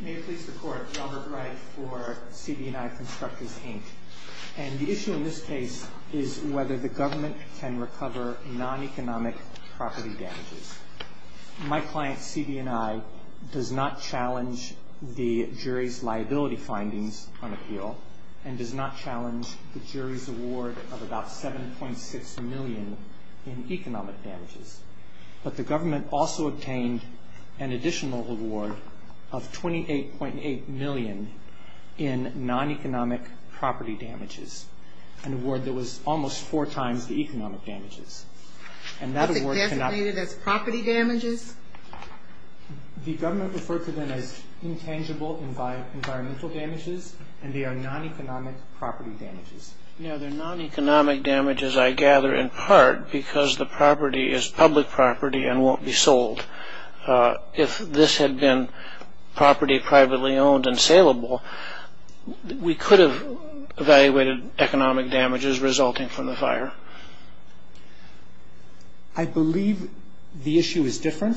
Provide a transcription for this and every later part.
May it please the Court, Robert Wright for CB & I Constructors, Inc. The issue in this case is whether the government can recover non-economic property damages. My client, CB & I, does not challenge the jury's liability findings on appeal and does not challenge the jury's award of about $7.6 million in economic damages. But the government also obtained an additional award of $28.8 million in non-economic property damages, an award that was almost four times the economic damages. And that award cannot – Was it designated as property damages? The government referred to them as intangible environmental damages, and they are non-economic property damages. No, they're non-economic damages, I gather, in part because the property is public property and won't be sold. If this had been property privately owned and saleable, we could have evaluated economic damages resulting from the fire. I believe the issue is different,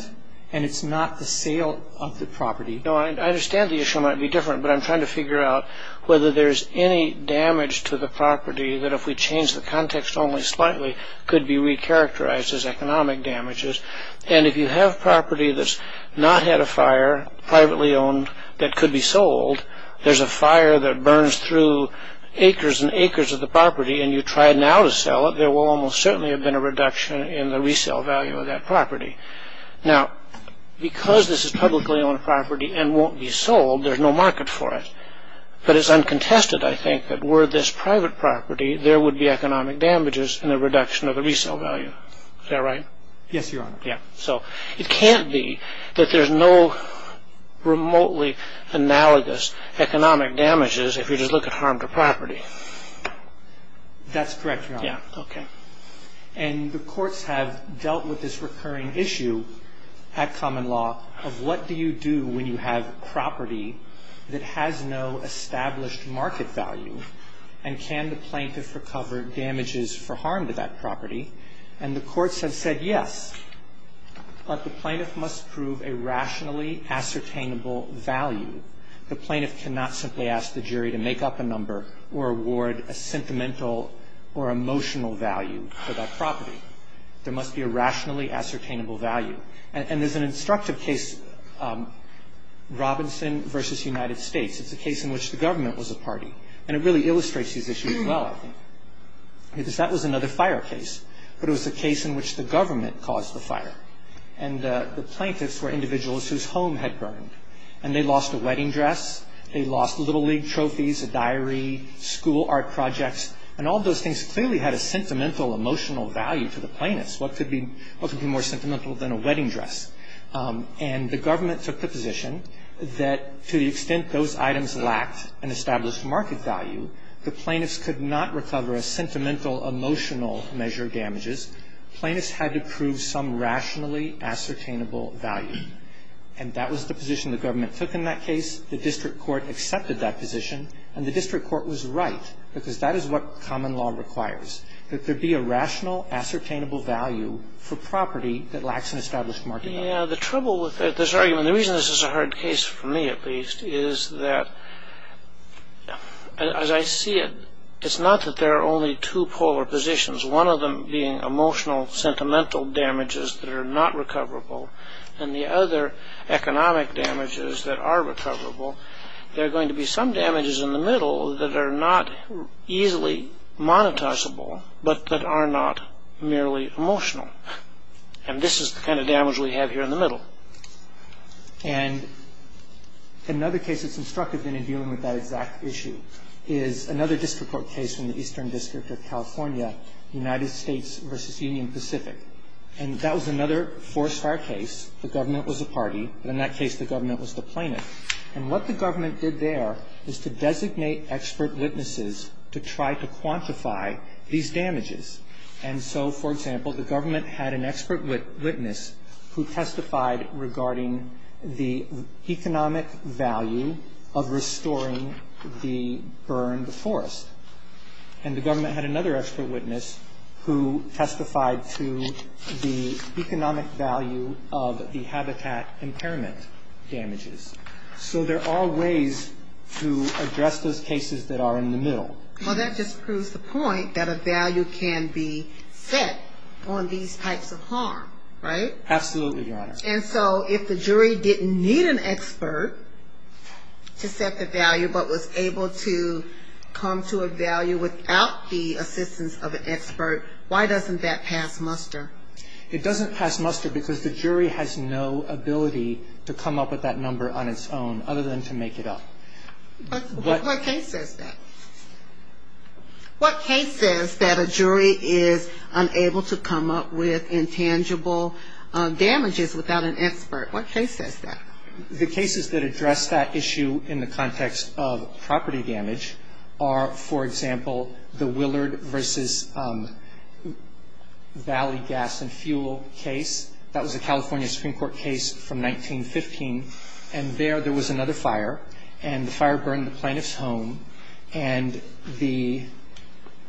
and it's not the sale of the property. No, I understand the issue might be different, but I'm trying to figure out whether there's any damage to the property that if we change the context only slightly could be re-characterized as economic damages. And if you have property that's not had a fire, privately owned, that could be sold, there's a fire that burns through acres and acres of the property and you try now to sell it, there will almost certainly have been a reduction in the resale value of that property. Now, because this is publicly owned property and won't be sold, there's no market for it. But it's uncontested, I think, that were this private property, there would be economic damages and a reduction of the resale value. Is that right? Yes, Your Honor. Yeah. So it can't be that there's no remotely analogous economic damages if you just look at harm to property. That's correct, Your Honor. Yeah. Okay. And the courts have dealt with this recurring issue at common law of what do you do when you have property that has no established market value and can the plaintiff recover damages for harm to that property. And the courts have said yes, but the plaintiff must prove a rationally ascertainable value. The plaintiff cannot simply ask the jury to make up a number or award a sentimental or emotional value for that property. There must be a rationally ascertainable value. And there's an instructive case, Robinson v. United States. It's a case in which the government was a party. And it really illustrates these issues well, I think, because that was another fire case. But it was a case in which the government caused the fire. And the plaintiffs were individuals whose home had burned. And they lost a wedding dress. They lost little league trophies, a diary, school art projects. And all those things clearly had a sentimental, emotional value to the plaintiffs. What could be more sentimental than a wedding dress? And the government took the position that to the extent those items lacked an established market value, the plaintiffs could not recover a sentimental, emotional measure of damages. Plaintiffs had to prove some rationally ascertainable value. And that was the position the government took in that case. The district court accepted that position. And the district court was right, because that is what common law requires, that there be a rational, ascertainable value for property that lacks an established market value. Yeah, the trouble with this argument, the reason this is a hard case for me, at least, is that as I see it, it's not that there are only two polar positions, one of them being emotional, sentimental damages that are not recoverable. And the other, economic damages that are recoverable. There are going to be some damages in the middle that are not easily monetizable, but that are not merely emotional. And this is the kind of damage we have here in the middle. And another case that's instructive in dealing with that exact issue is another district court case in the Eastern District of California, United States versus Union Pacific. And that was another forest fire case. The government was a party, but in that case the government was the plaintiff. And what the government did there was to designate expert witnesses to try to quantify these damages. And so, for example, the government had an expert witness who testified regarding the economic value of restoring the burned forest. And the government had another expert witness who testified to the economic value of the habitat impairment damages. So there are ways to address those cases that are in the middle. Well, that just proves the point that a value can be set on these types of harm, right? Absolutely, Your Honor. And so if the jury didn't need an expert to set the value but was able to come to a value without the assistance of an expert, why doesn't that pass muster? It doesn't pass muster because the jury has no ability to come up with that number on its own other than to make it up. What case says that? What case says that a jury is unable to come up with intangible damages without an expert? What case says that? The cases that address that issue in the context of property damage are, for example, the Willard v. Valley Gas and Fuel case. That was a California Supreme Court case from 1915. And there, there was another fire, and the fire burned the plaintiff's home. And the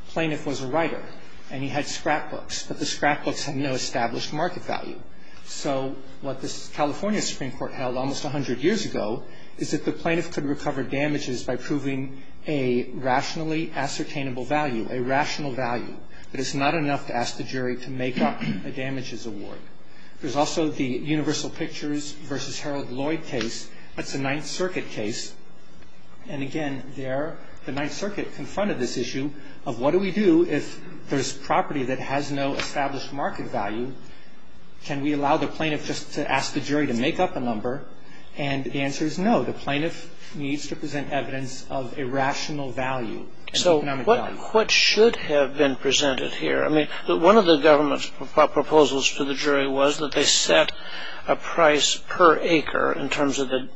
plaintiff was a writer, and he had scrapbooks, but the scrapbooks had no established market value. So what this California Supreme Court held almost 100 years ago is that the plaintiff could recover damages by proving a rationally ascertainable value, a rational value, but it's not enough to ask the jury to make up a damages award. There's also the Universal Pictures v. Harold Lloyd case. That's a Ninth Circuit case. And again, there the Ninth Circuit confronted this issue of what do we do if there's no established market value? Can we allow the plaintiff just to ask the jury to make up a number? And the answer is no. The plaintiff needs to present evidence of a rational value. So what should have been presented here? I mean, one of the government's proposals to the jury was that they set a price per acre in terms of the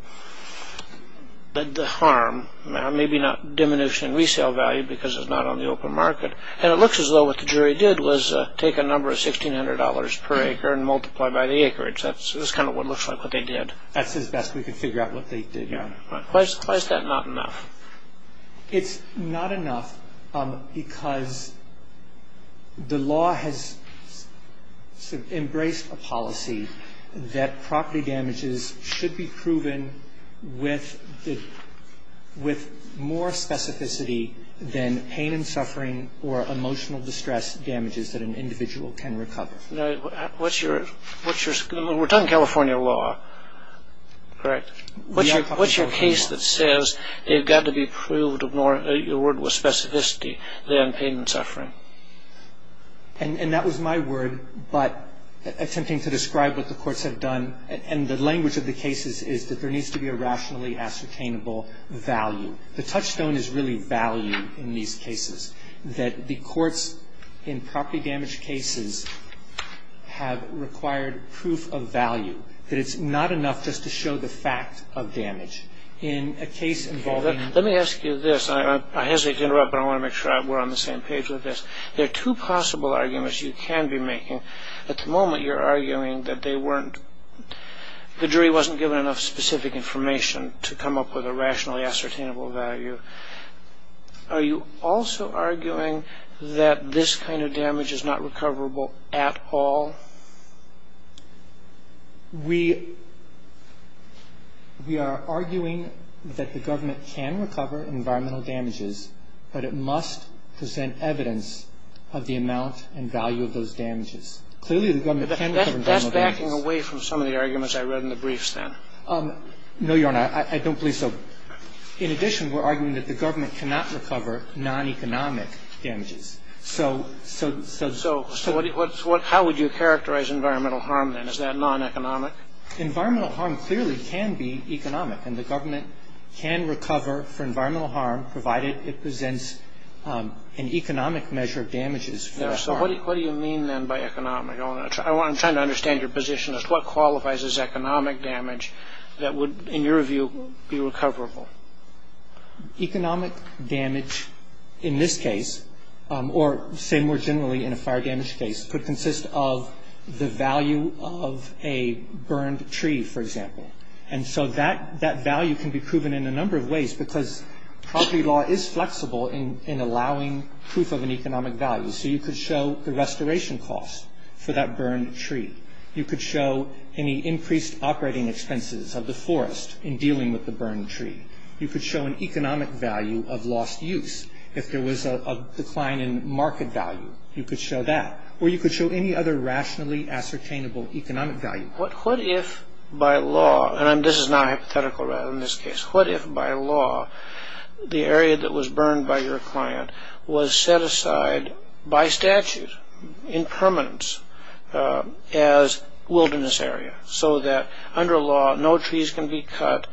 harm, maybe not diminution in resale value because it's not on the open market. And it looks as though what the jury did was take a number of $1,600 per acre and multiply by the acreage. That's kind of what looks like what they did. That's as best we could figure out what they did. Why is that not enough? It's not enough because the law has embraced a policy that property damages should be proven with more specificity than pain and suffering or emotional distress damages that an individual can recover. We're talking California law, correct? What's your case that says they've got to be proved with more specificity than pain and suffering? And that was my word, but attempting to describe what the courts have done, and the language of the cases is that there needs to be a rationally ascertainable value. The touchstone is really value in these cases, that the courts in property damage cases have required proof of value, that it's not enough just to show the fact of damage. In a case involving- Let me ask you this. I hesitate to interrupt, but I want to make sure we're on the same page with this. There are two possible arguments you can be making. At the moment, you're arguing that the jury wasn't given enough specific information to come up with a rationally ascertainable value. Are you also arguing that this kind of damage is not recoverable at all? We are arguing that the government can recover environmental damages, but it must present evidence of the amount and value of those damages. Clearly, the government can recover environmental damages. That's backing away from some of the arguments I read in the briefs then. No, Your Honor. I don't believe so. In addition, we're arguing that the government cannot recover non-economic damages. So- So how would you characterize environmental harm then? Is that non-economic? Environmental harm clearly can be economic, and the government can recover for environmental harm, provided it presents an economic measure of damages for a harm. Yes. So what do you mean then by economic? I'm trying to understand your position as to what qualifies as economic damage that would, in your view, be recoverable. Economic damage in this case, or say more generally in a fire damage case, could consist of the value of a burned tree, for example. And so that value can be proven in a number of ways because property law is flexible in allowing proof of an economic value. So you could show the restoration cost for that burned tree. You could show any increased operating expenses of the forest in dealing with the burned tree. You could show an economic value of lost use. If there was a decline in market value, you could show that. Or you could show any other rationally ascertainable economic value. What if by law, and this is now hypothetical rather than this case, what if by law the area that was burned by your client was set aside by statute in permanence as wilderness area so that under law no trees can be cut,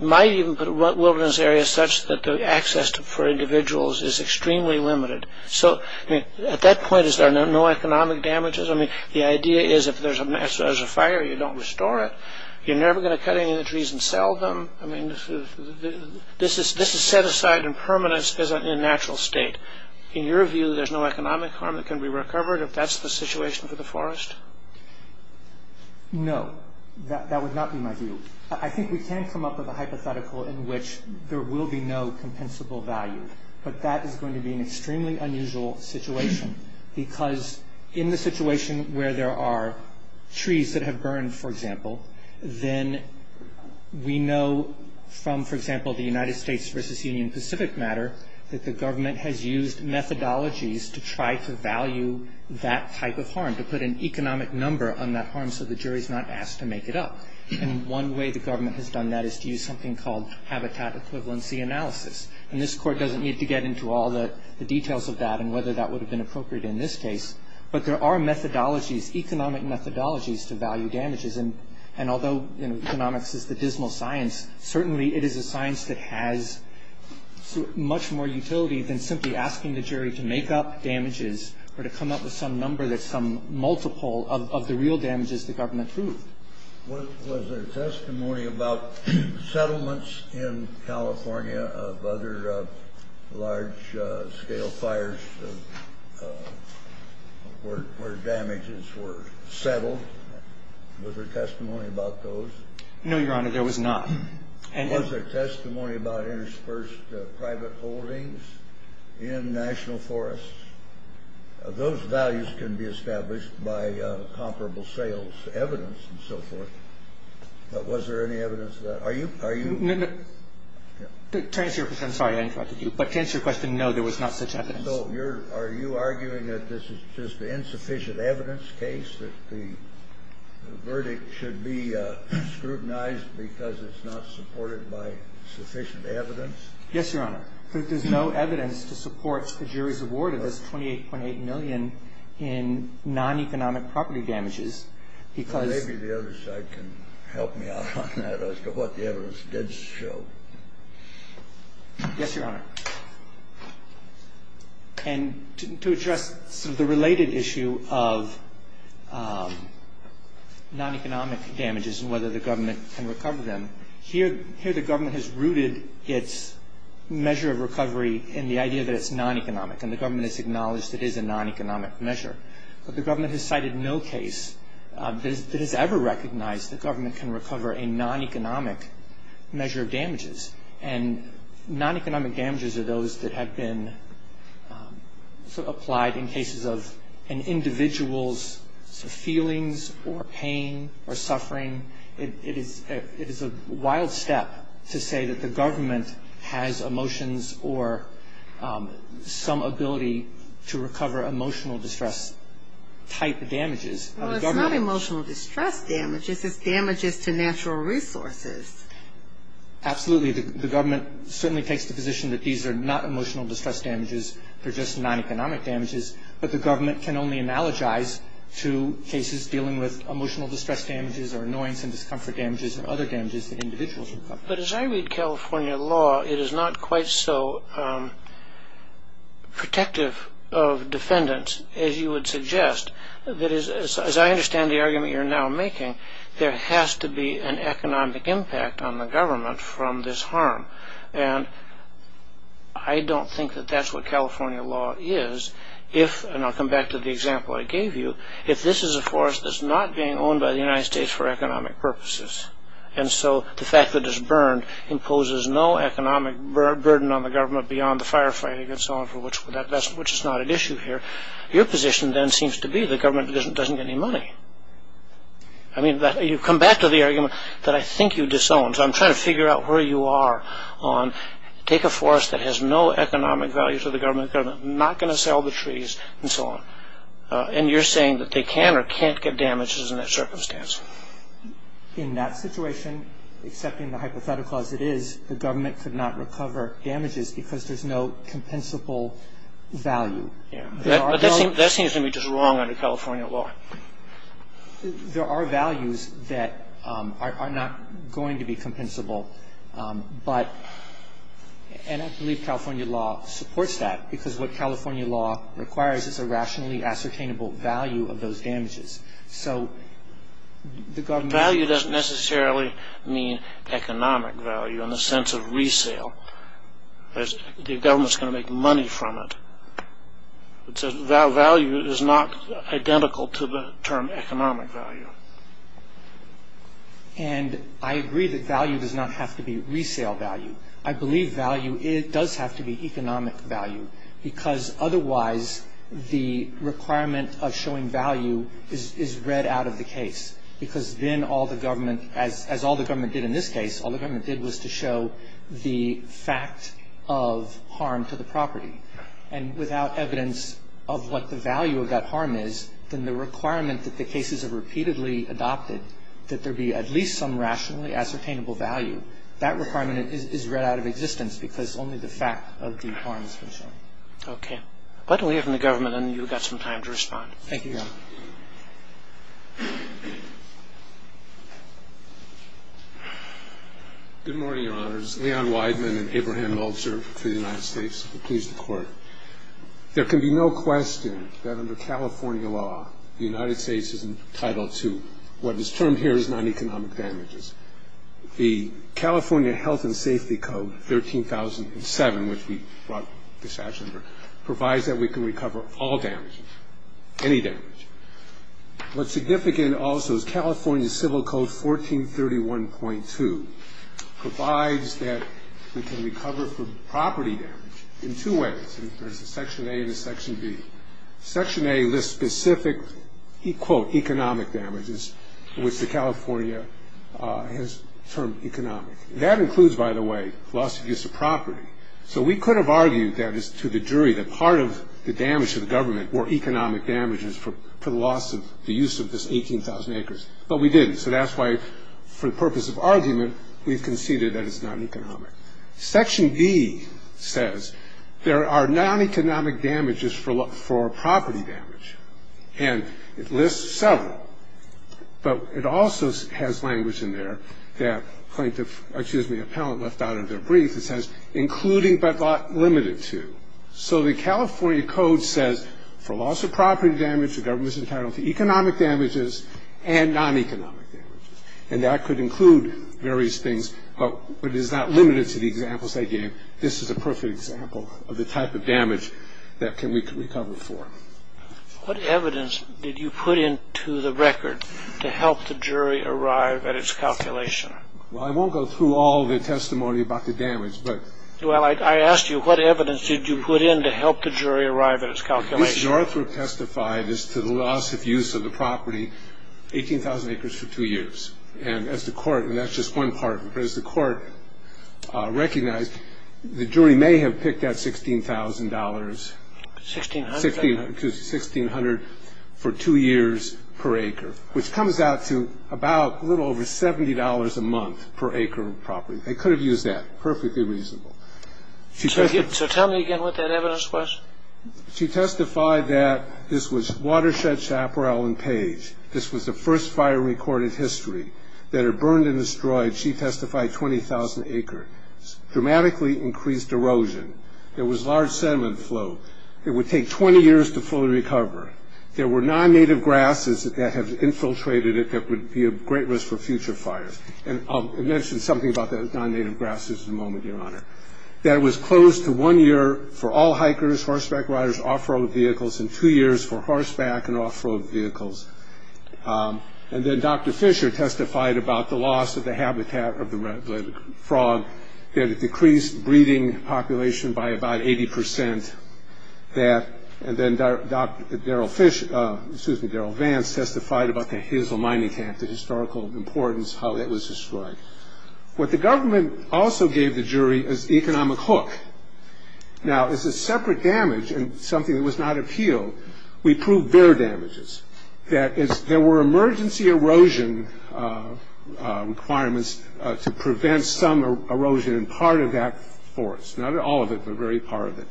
might even put wilderness areas such that the access for individuals is extremely limited. So at that point is there no economic damages? I mean, the idea is if there's a fire, you don't restore it. You're never going to cut any of the trees and sell them. I mean, this is set aside in permanence as a natural state. In your view, there's no economic harm that can be recovered if that's the situation for the forest? No, that would not be my view. I think we can come up with a hypothetical in which there will be no compensable value, but that is going to be an extremely unusual situation because in the situation where there are trees that have burned, for example, then we know from, for example, the United States versus Union Pacific matter that the government has used methodologies to try to value that type of harm, to put an economic number on that harm so the jury is not asked to make it up. And one way the government has done that is to use something called habitat equivalency analysis. And this court doesn't need to get into all the details of that and whether that would have been appropriate in this case, but there are methodologies, economic methodologies to value damages. And although economics is the dismal science, certainly it is a science that has much more utility than simply asking the jury to make up damages or to come up with some number that's some multiple of the real damages the government proved. Was there testimony about settlements in California of other large-scale fires where damages were settled? Was there testimony about those? No, Your Honor, there was not. And was there testimony about interspersed private holdings in national forests? Those values can be established by comparable sales evidence and so forth. But was there any evidence of that? Are you ñ are you ñ No, no. To answer your question ñ sorry, I interrupted you. But to answer your question, no, there was not such evidence. So you're ñ are you arguing that this is just an insufficient evidence case, that the verdict should be scrutinized because it's not supported by sufficient evidence? Yes, Your Honor. But there's no evidence to support the jury's award of this 28.8 million in non-economic property damages because ñ Well, maybe the other side can help me out on that as to what the evidence did show. Yes, Your Honor. And to address sort of the related issue of non-economic damages and whether the government can recover them, here the government has rooted its measure of recovery in the idea that it's non-economic and the government has acknowledged it is a non-economic measure. But the government has cited no case that has ever recognized the government can recover a non-economic measure of damages. And non-economic damages are those that have been applied in cases of an individual's feelings or pain or suffering. It is a wild step to say that the government has emotions or some ability to recover emotional distress-type damages. Well, it's not emotional distress damages. It's damages to natural resources. Absolutely. The government certainly takes the position that these are not emotional distress damages. They're just non-economic damages. But the government can only analogize to cases dealing with emotional distress damages or annoyance and discomfort damages or other damages that individuals recover. But as I read California law, it is not quite so protective of defendants as you would suggest. That is, as I understand the argument you're now making, there has to be an economic impact on the government from this harm. And I don't think that that's what California law is. And I'll come back to the example I gave you. If this is a forest that's not being owned by the United States for economic purposes, and so the fact that it's burned imposes no economic burden on the government beyond the firefighting and so on, which is not an issue here, your position then seems to be the government doesn't get any money. I mean, you come back to the argument that I think you disown. So I'm trying to figure out where you are on take a forest that has no economic value to the government, not going to sell the trees and so on. And you're saying that they can or can't get damages in that circumstance. In that situation, accepting the hypothetical as it is, the government could not recover damages because there's no compensable value. Yeah, but that seems to me just wrong under California law. There are values that are not going to be compensable. And I believe California law supports that, because what California law requires is a rationally ascertainable value of those damages. So the government... Value doesn't necessarily mean economic value in the sense of resale. The government's going to make money from it. Value is not identical to the term economic value. And I agree that value does not have to be resale value. I believe value does have to be economic value, because otherwise the requirement of showing value is read out of the case, because then all the government, as all the government did in this case, all the government did was to show the fact of harm to the property. And without evidence of what the value of that harm is, then the requirement that the cases are repeatedly adopted, that there be at least some rationally ascertainable value, that requirement is read out of existence, because only the fact of the harm has been shown. Okay. Why don't we open the government, and you've got some time to respond. Thank you, Your Honor. Good morning, Your Honors. Leon Wideman and Abraham Meltzer to the United States. Please, the Court. There can be no question that under California law, the United States is entitled to what is termed here as non-economic damages. The California Health and Safety Code, 13007, which we brought this afternoon, provides that we can recover all damages, any damage. What's significant also is California Civil Code 1431.2 provides that we can recover for property damage in two ways. There's a Section A and a Section B. Section A lists specific, quote, economic damages, which California has termed economic. That includes, by the way, loss of use of property. So we could have argued that as to the jury, that part of the damage to the government were economic damages for the loss of the use of this 18,000 acres, but we didn't. So that's why, for the purpose of argument, we've conceded that it's non-economic. Section B says there are non-economic damages for property damage. And it lists several, but it also has language in there that plaintiff, excuse me, appellant left out of their brief. It says, including but limited to. So the California Code says for loss of property damage, the government is entitled to economic damages and non-economic damages. And that could include various things, but it is not limited to the examples they gave. This is a perfect example of the type of damage that can we recover for. What evidence did you put into the record to help the jury arrive at its calculation? Well, I won't go through all the testimony about the damage, but... Well, I asked you, what evidence did you put in to help the jury arrive at its calculation? The evidence your author testified is to the loss of use of the property, 18,000 acres for two years. And as the court, and that's just one part of it, but as the court recognized, the jury may have picked at $16,000... $1,600... $1,600 for two years per acre, which comes out to about a little over $70 a month per acre of property. They could have used that. Perfectly reasonable. So tell me again what that evidence was. She testified that this was Watershed, Chaparral, and Page. This was the first fire recorded history. That it burned and destroyed, she testified, 20,000 acres. Dramatically increased erosion. There was large sediment flow. It would take 20 years to fully recover. There were non-native grasses that have infiltrated it that would be a great risk for future fires. And I'll mention something about the non-native grasses in a moment, Your Honor. That it was closed to one year for all hikers, horseback riders, off-road vehicles, and two years for horseback and off-road vehicles. And then Dr. Fisher testified about the loss of the habitat of the frog. That it decreased breeding population by about 80%... And then Darrell Vance testified about the Hazel Mining Camp, the historical importance, how that was destroyed. What the government also gave the jury is economic hook. Now, this is separate damage and something that was not appealed. We proved their damages. That there were emergency erosion requirements to prevent some erosion in part of that forest. Not all of it, but very part of it.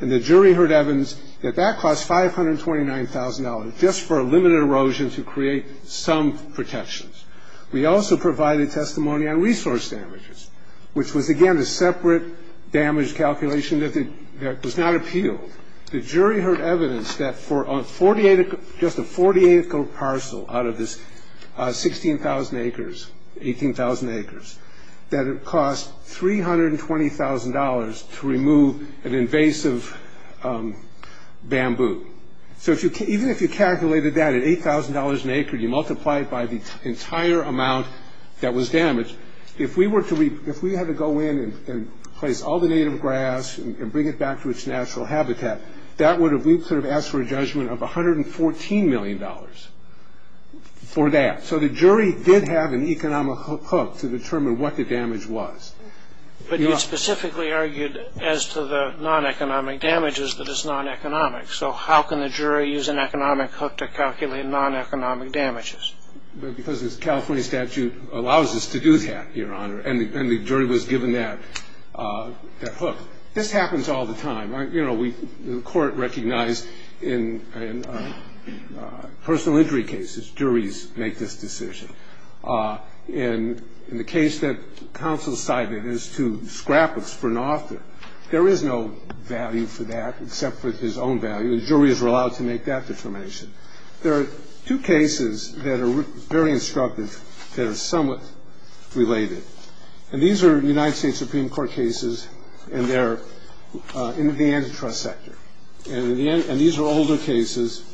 And the jury heard evidence that that cost $529,000 just for a limited erosion to create some protections. We also provided testimony on resource damages, which was, again, a separate damage calculation that was not appealed. The jury heard evidence that for just a 48-acre parcel out of this 16,000 acres, 18,000 acres, that it cost $320,000 to remove an invasive bamboo. So even if you calculated that at $8,000 an acre, you multiply it by the entire amount that was damaged, if we had to go in and place all the native grass and bring it back to its natural habitat, that would have, we would have asked for a judgment of $114 million for that. So the jury did have an economic hook to determine what the damage was. But you specifically argued as to the non-economic damages that is non-economic. So how can the jury use an economic hook to calculate non-economic damages? Because the California statute allows us to do that, Your Honor, and the jury was given that hook. This happens all the time. You know, the court recognized in personal injury cases, juries make this decision. And in the case that counsel cited as to scrap of spurnoff, there is no value for that except for his own value. The jury is allowed to make that determination. There are two cases that are very instructive that are somewhat related. And these are United States Supreme Court cases, and they're in the antitrust sector. And these are older cases.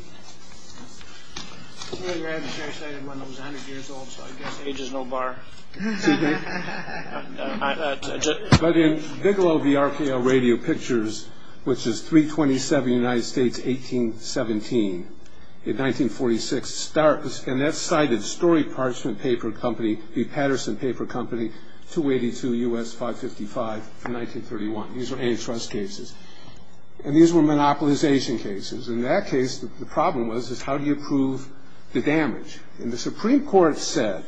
Well, your adversary cited one that was 100 years old, so I guess age is no bar. But in Bigelow v. RKO Radio Pictures, which is 327 United States, 1817, in 1946, and that cited Story Parchment Paper Company v. Patterson Paper Company, 282 U.S. 555, 1931. These were antitrust cases. And these were monopolization cases. In that case, the problem was, is how do you prove the damage? And the Supreme Court said,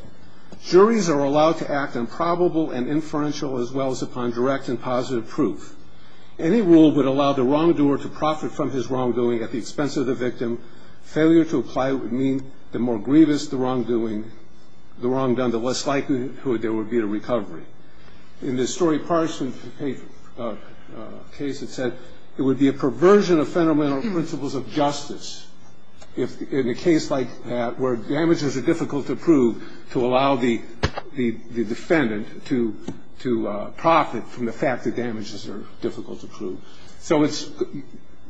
juries are allowed to act on probable and inferential as well as upon direct and positive proof. Any rule would allow the wrongdoer to profit from his wrongdoing at the expense of the victim. Failure to apply would mean the more grievous the wrongdoing, the wrongdone the less likely there would be a recovery. In the Story Parchment Case, it said, it would be a perversion of fundamental principles of justice in a case like that where damages are difficult to prove to allow the defendant to profit from the fact that damages are difficult to prove. So it's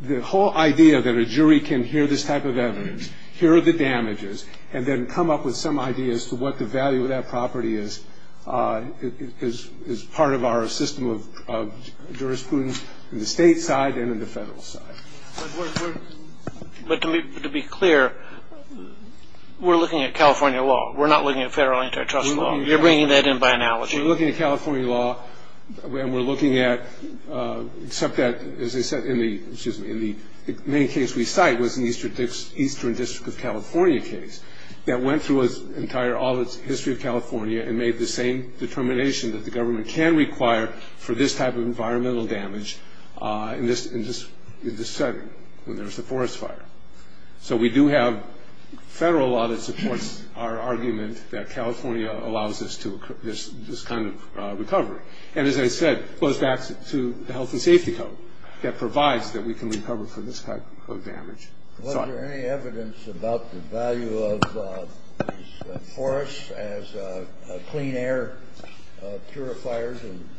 the whole idea that a jury can hear this type of evidence, hear the damages, and then come up with some idea as to what the value of that property is, is part of our system of jurisprudence in the state side and in the federal side. But to be clear, we're looking at California law. We're not looking at federal antitrust law. You're bringing that in by analogy. We're looking at California law, and we're looking at, except that, as I said, in the main case we cite was the Eastern District of California case that went through its entire history of California and made the same determination that the government can require for this type of environmental damage in this setting when there's a forest fire. So we do have federal law that supports our argument that California allows us this kind of recovery. And as I said, it goes back to the Health and Safety Code that provides that we can recover from this type of damage. Was there any evidence about the value of forests as clean air purifiers and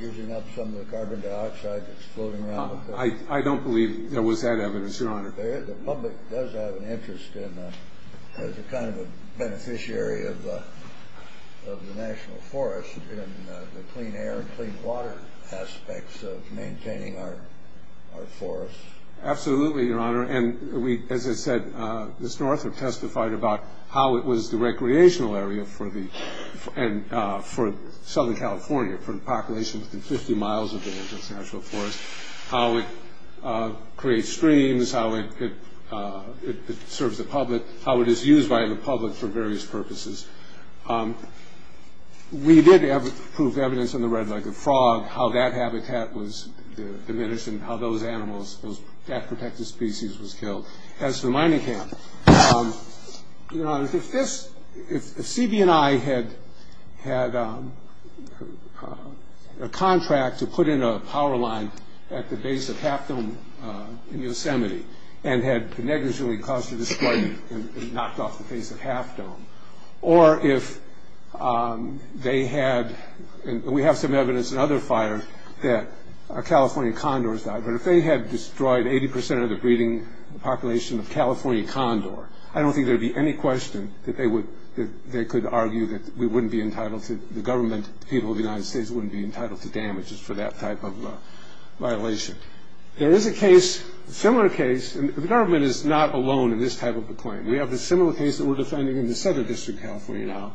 using up some of the carbon dioxide that's floating around? I don't believe there was that evidence, Your Honor. The public does have an interest as a kind of a beneficiary of the national forest in the clean air and clean water aspects of maintaining our forests. Absolutely, Your Honor. And as I said, Mr. Arthur testified about how it was the recreational area for Southern California, for the population within 50 miles of the national forest, how it creates streams, how it serves the public, how it is used by the public for various purposes. We did have proof of evidence in the Red-Legged Frog how that habitat was diminished and how those animals, those bat-protected species, was killed. As for the mining camp, Your Honor, if CB&I had a contract to put in a power line at the base of Half Dome in Yosemite and had negligently caused a displacement and knocked off the base of Half Dome, or if they had, and we have some evidence in other fires that California condors died, but if they had destroyed 80% of the breeding population of California condor, I don't think there would be any question that they could argue that we wouldn't be entitled to, the government, the people of the United States wouldn't be entitled to damages for that type of violation. There is a case, a similar case, and the government is not alone in this type of a claim. We have a similar case that we're defending in the Southern District of California now.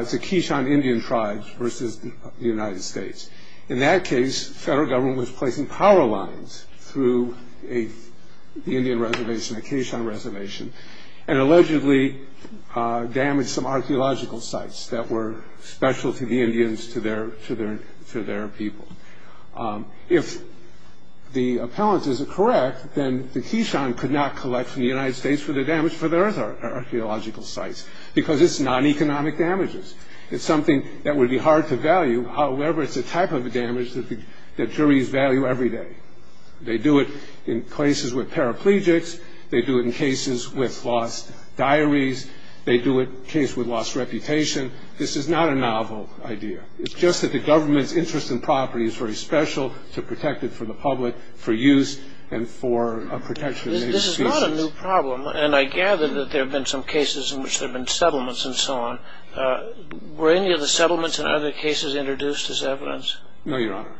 It's a Kishon Indian tribe versus the United States. In that case, the federal government was placing power lines through the Indian reservation, the Kishon reservation, and allegedly damaged some archaeological sites that were special to the Indians, to their people. If the appellant is correct, then the Kishon could not collect from the United States for the damage for their archaeological sites, because it's non-economic damages. It's something that would be hard to value. However, it's a type of damage that juries value every day. They do it in cases with paraplegics. They do it in cases with lost diaries. They do it in cases with lost reputation. This is not a novel idea. It's just that the government's interest in property is very special to protect it for the public, for use, and for protection of native species. This is not a new problem, and I gather that there have been some cases in which there have been settlements and so on. Were any of the settlements and other cases introduced as evidence? No, Your Honor.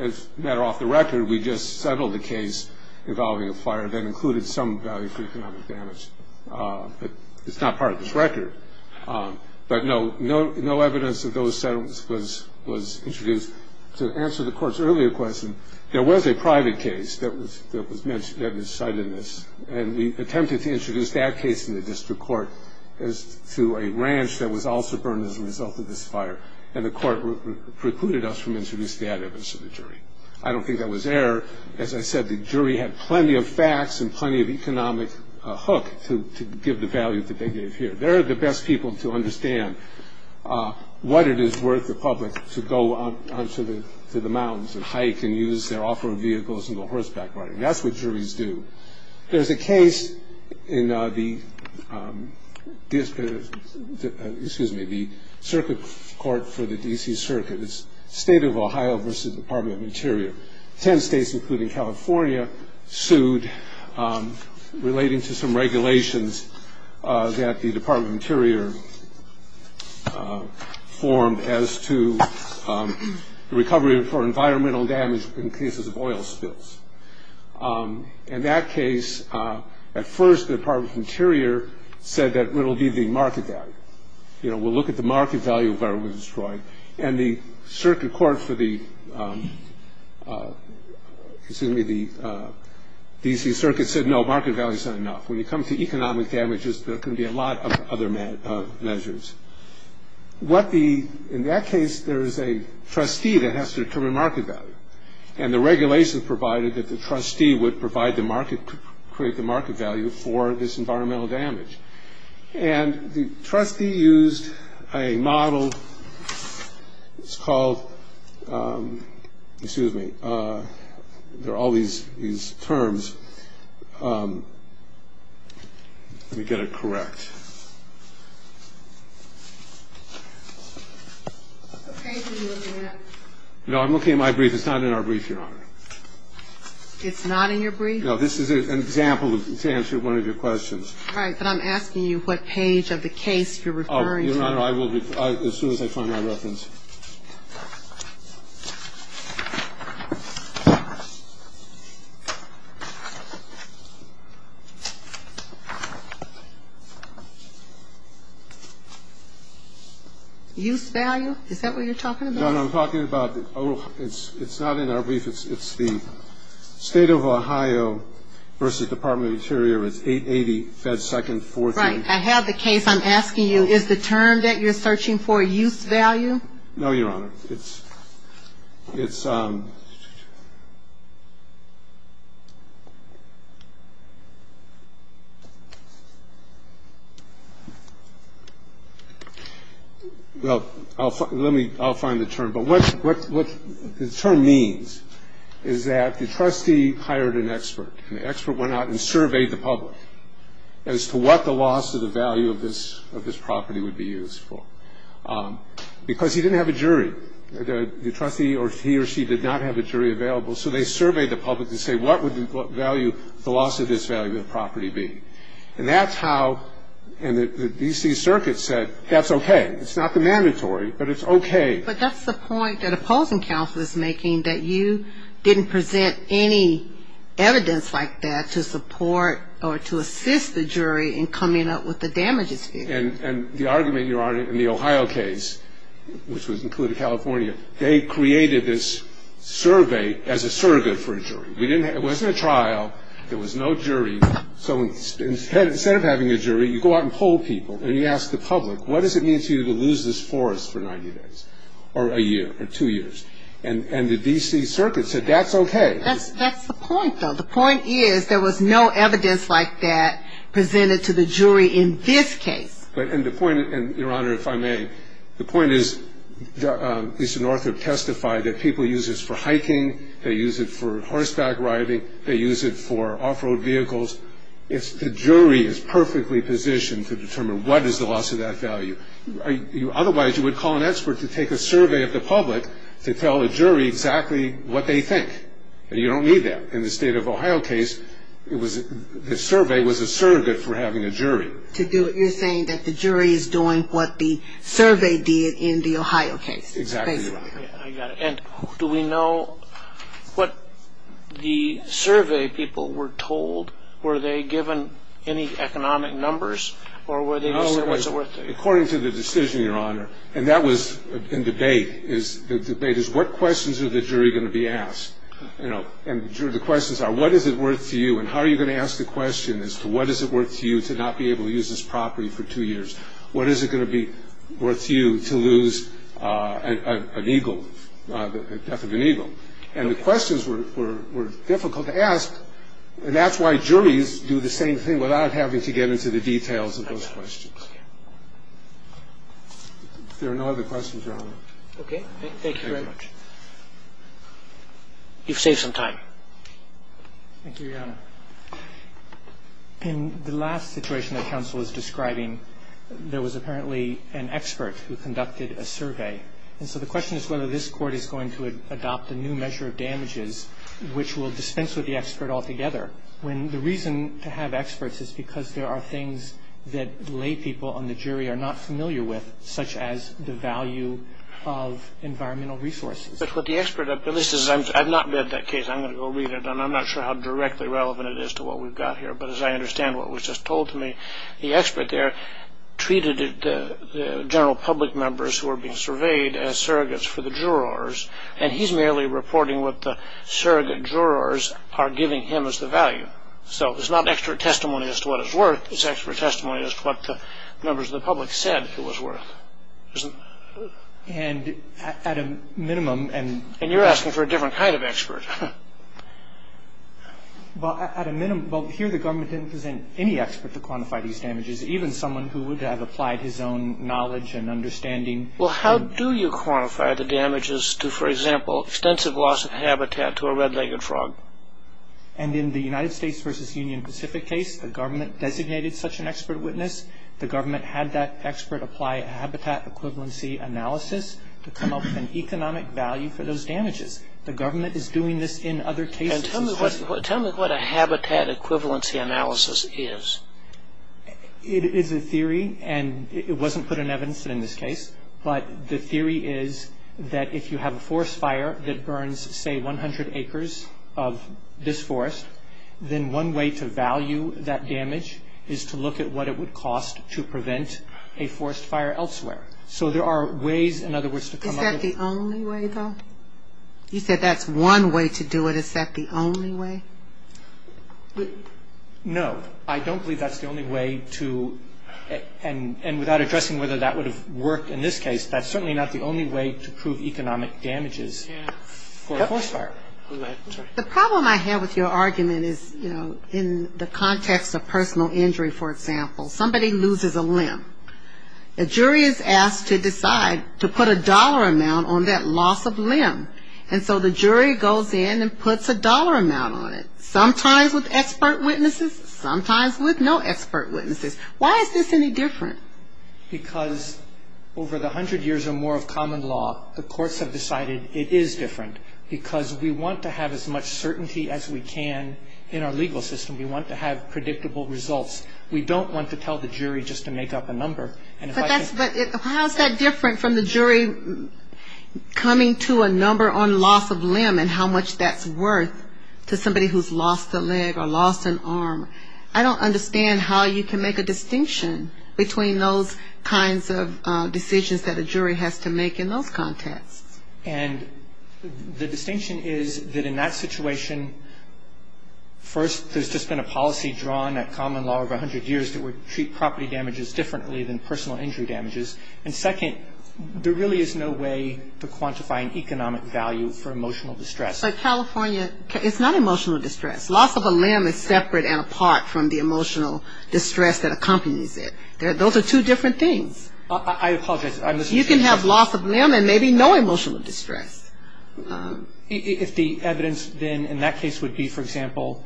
As a matter off the record, we just settled a case involving a fire that included some value for economic damage, but it's not part of this record. But no evidence of those settlements was introduced. To answer the court's earlier question, there was a private case that was cited in this, and we attempted to introduce that case in the district court as to a ranch that was also burned as a result of this fire, and the court precluded us from introducing that evidence to the jury. I don't think that was error. As I said, the jury had plenty of facts and plenty of economic hook to give the value that they gave here. They're the best people to understand what it is worth to the public to go onto the mountains and hike and use their off-road vehicles and go horseback riding. That's what juries do. There's a case in the circuit court for the D.C. Circuit. It's the State of Ohio versus the Department of Interior. Ten states, including California, sued relating to some regulations that the Department of Interior formed as to the recovery for environmental damage in cases of oil spills. In that case, at first the Department of Interior said that it will be the market value. We'll look at the market value of where it was destroyed, and the circuit court for the D.C. Circuit said no, market value is not enough. When you come to economic damages, there can be a lot of other measures. In that case, there is a trustee that has to determine market value, and the regulations provided that the trustee would create the market value for this environmental damage. And the trustee used a model. It's called, excuse me, there are all these terms. Let me get it correct. No, I'm looking at my brief. It's not in our brief, Your Honor. It's not in your brief? No, this is an example to answer one of your questions. All right, but I'm asking you what page of the case you're referring to. Your Honor, I will, as soon as I find my reference. Use value? Is that what you're talking about? No, no, I'm talking about, it's not in our brief. It's the State of Ohio v. Department of the Interior. It's 880-Fed 2nd, 14th. Right. I have the case. I'm asking you, is the term that you're searching for use value? No, Your Honor. It's, it's, well, let me, I'll find the term. But what the term means is that the trustee hired an expert. And the expert went out and surveyed the public as to what the loss of the value of this property would be used for. Because he didn't have a jury. The trustee, or he or she, did not have a jury available. So they surveyed the public to say, what would the value, the loss of this value of the property be? And that's how, and the D.C. Circuit said, that's okay. It's not the mandatory, but it's okay. But that's the point that opposing counsel is making, that you didn't present any evidence like that to support or to assist the jury in coming up with the damages. And, and the argument, Your Honor, in the Ohio case, which was included California, they created this survey as a surrogate for a jury. We didn't, it wasn't a trial. There was no jury. So instead, instead of having a jury, you go out and poll people. And you ask the public, what does it mean to you to lose this forest for 90 days? Or a year? Or two years? And, and the D.C. Circuit said, that's okay. That's, that's the point, though. The point is, there was no evidence like that presented to the jury in this case. But, and the point, and Your Honor, if I may, the point is, Mr. Northrop testified that people use this for hiking. They use it for horseback riding. They use it for off-road vehicles. It's, the jury is perfectly positioned to determine what is the loss of that value. Otherwise, you would call an expert to take a survey of the public to tell a jury exactly what they think. And you don't need that. In the state of Ohio case, it was, the survey was a surrogate for having a jury. To do what you're saying, that the jury is doing what the survey did in the Ohio case. Exactly right. I got it. And do we know what the survey people were told? Were they given any economic numbers? Or were they just said, what's it worth to you? According to the decision, Your Honor, and that was in debate. The debate is, what questions are the jury going to be asked? And the questions are, what is it worth to you? And how are you going to ask the question as to what is it worth to you to not be able to use this property for two years? What is it going to be worth to you to lose an eagle, the death of an eagle? And the questions were difficult to ask. And that's why juries do the same thing without having to get into the details of those questions. If there are no other questions, Your Honor. Okay. Thank you very much. You've saved some time. Thank you, Your Honor. In the last situation that counsel was describing, there was apparently an expert who conducted a survey. And so the question is whether this court is going to adopt a new measure of damages, which will dispense with the expert altogether, when the reason to have experts is because there are things that lay people on the jury are not familiar with, such as the value of environmental resources. But what the expert, at least, I've not read that case. I'm going to go read it. And I'm not sure how directly relevant it is to what we've got here. But as I understand what was just told to me, the expert there treated the general public members who were being surveyed as surrogates for the jurors, and he's merely reporting what the surrogate jurors are giving him as the value. So it's not extra testimony as to what it's worth. It's extra testimony as to what the members of the public said it was worth. And at a minimum – And you're asking for a different kind of expert. Well, here the government didn't present any expert to quantify these damages, even someone who would have applied his own knowledge and understanding. Well, how do you quantify the damages to, for example, extensive loss of habitat to a red-legged frog? And in the United States v. Union Pacific case, the government designated such an expert witness. The government had that expert apply a habitat equivalency analysis to come up with an economic value for those damages. The government is doing this in other cases. And tell me what a habitat equivalency analysis is. It is a theory, and it wasn't put in evidence in this case. But the theory is that if you have a forest fire that burns, say, 100 acres of this forest, then one way to value that damage is to look at what it would cost to prevent a forest fire elsewhere. So there are ways, in other words, to come up with – Is that the only way, though? You said that's one way to do it. Is that the only way? No. I don't believe that's the only way to – and without addressing whether that would have worked in this case, that's certainly not the only way to prove economic damages for a forest fire. The problem I have with your argument is, you know, in the context of personal injury, for example, somebody loses a limb. A jury is asked to decide to put a dollar amount on that loss of limb. And so the jury goes in and puts a dollar amount on it, sometimes with expert witnesses, sometimes with no expert witnesses. Why is this any different? Because over the 100 years or more of common law, the courts have decided it is different, because we want to have as much certainty as we can in our legal system. We want to have predictable results. We don't want to tell the jury just to make up a number. But how is that different from the jury coming to a number on loss of limb and how much that's worth to somebody who's lost a leg or lost an arm? I don't understand how you can make a distinction between those kinds of decisions that a jury has to make in those contexts. And the distinction is that in that situation, first, there's just been a policy drawn at common law over 100 years that would treat property damages differently than personal injury damages. And second, there really is no way to quantify an economic value for emotional distress. But California, it's not emotional distress. Loss of a limb is separate and apart from the emotional distress that accompanies it. Those are two different things. I apologize. You can have loss of limb and maybe no emotional distress. If the evidence then in that case would be, for example,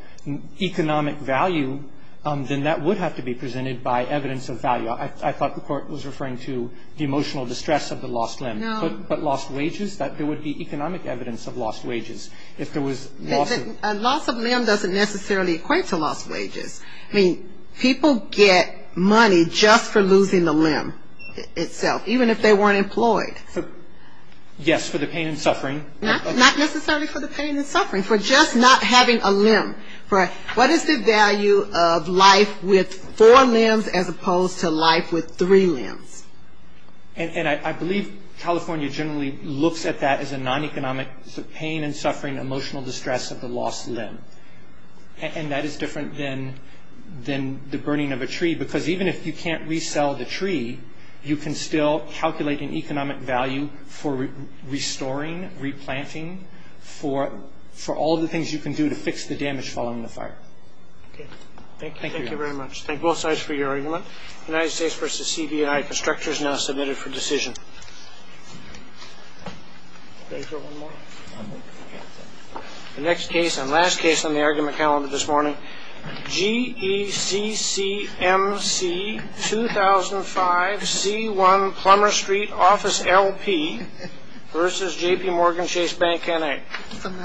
economic value, then that would have to be presented by evidence of value. I thought the court was referring to the emotional distress of the lost limb. No. But lost wages, there would be economic evidence of lost wages. If there was loss of limb. A loss of limb doesn't necessarily equate to lost wages. I mean, people get money just for losing a limb itself, even if they weren't employed. Yes, for the pain and suffering. Not necessarily for the pain and suffering, for just not having a limb. What is the value of life with four limbs as opposed to life with three limbs? And I believe California generally looks at that as a non-economic pain and suffering emotional distress of the lost limb. And that is different than the burning of a tree, because even if you can't resell the tree, you can still calculate an economic value for restoring, replanting, for all the things you can do to fix the damage following the fire. Thank you. Thank you very much. Thank both sides for your argument. United States v. CBI. Constructors now submitted for decision. The next case and last case on the argument calendar this morning, G.E.C.C.M.C., 2005, C1, Plummer Street, Office L.P. versus J.P. Morgan Chase Bank, N.A.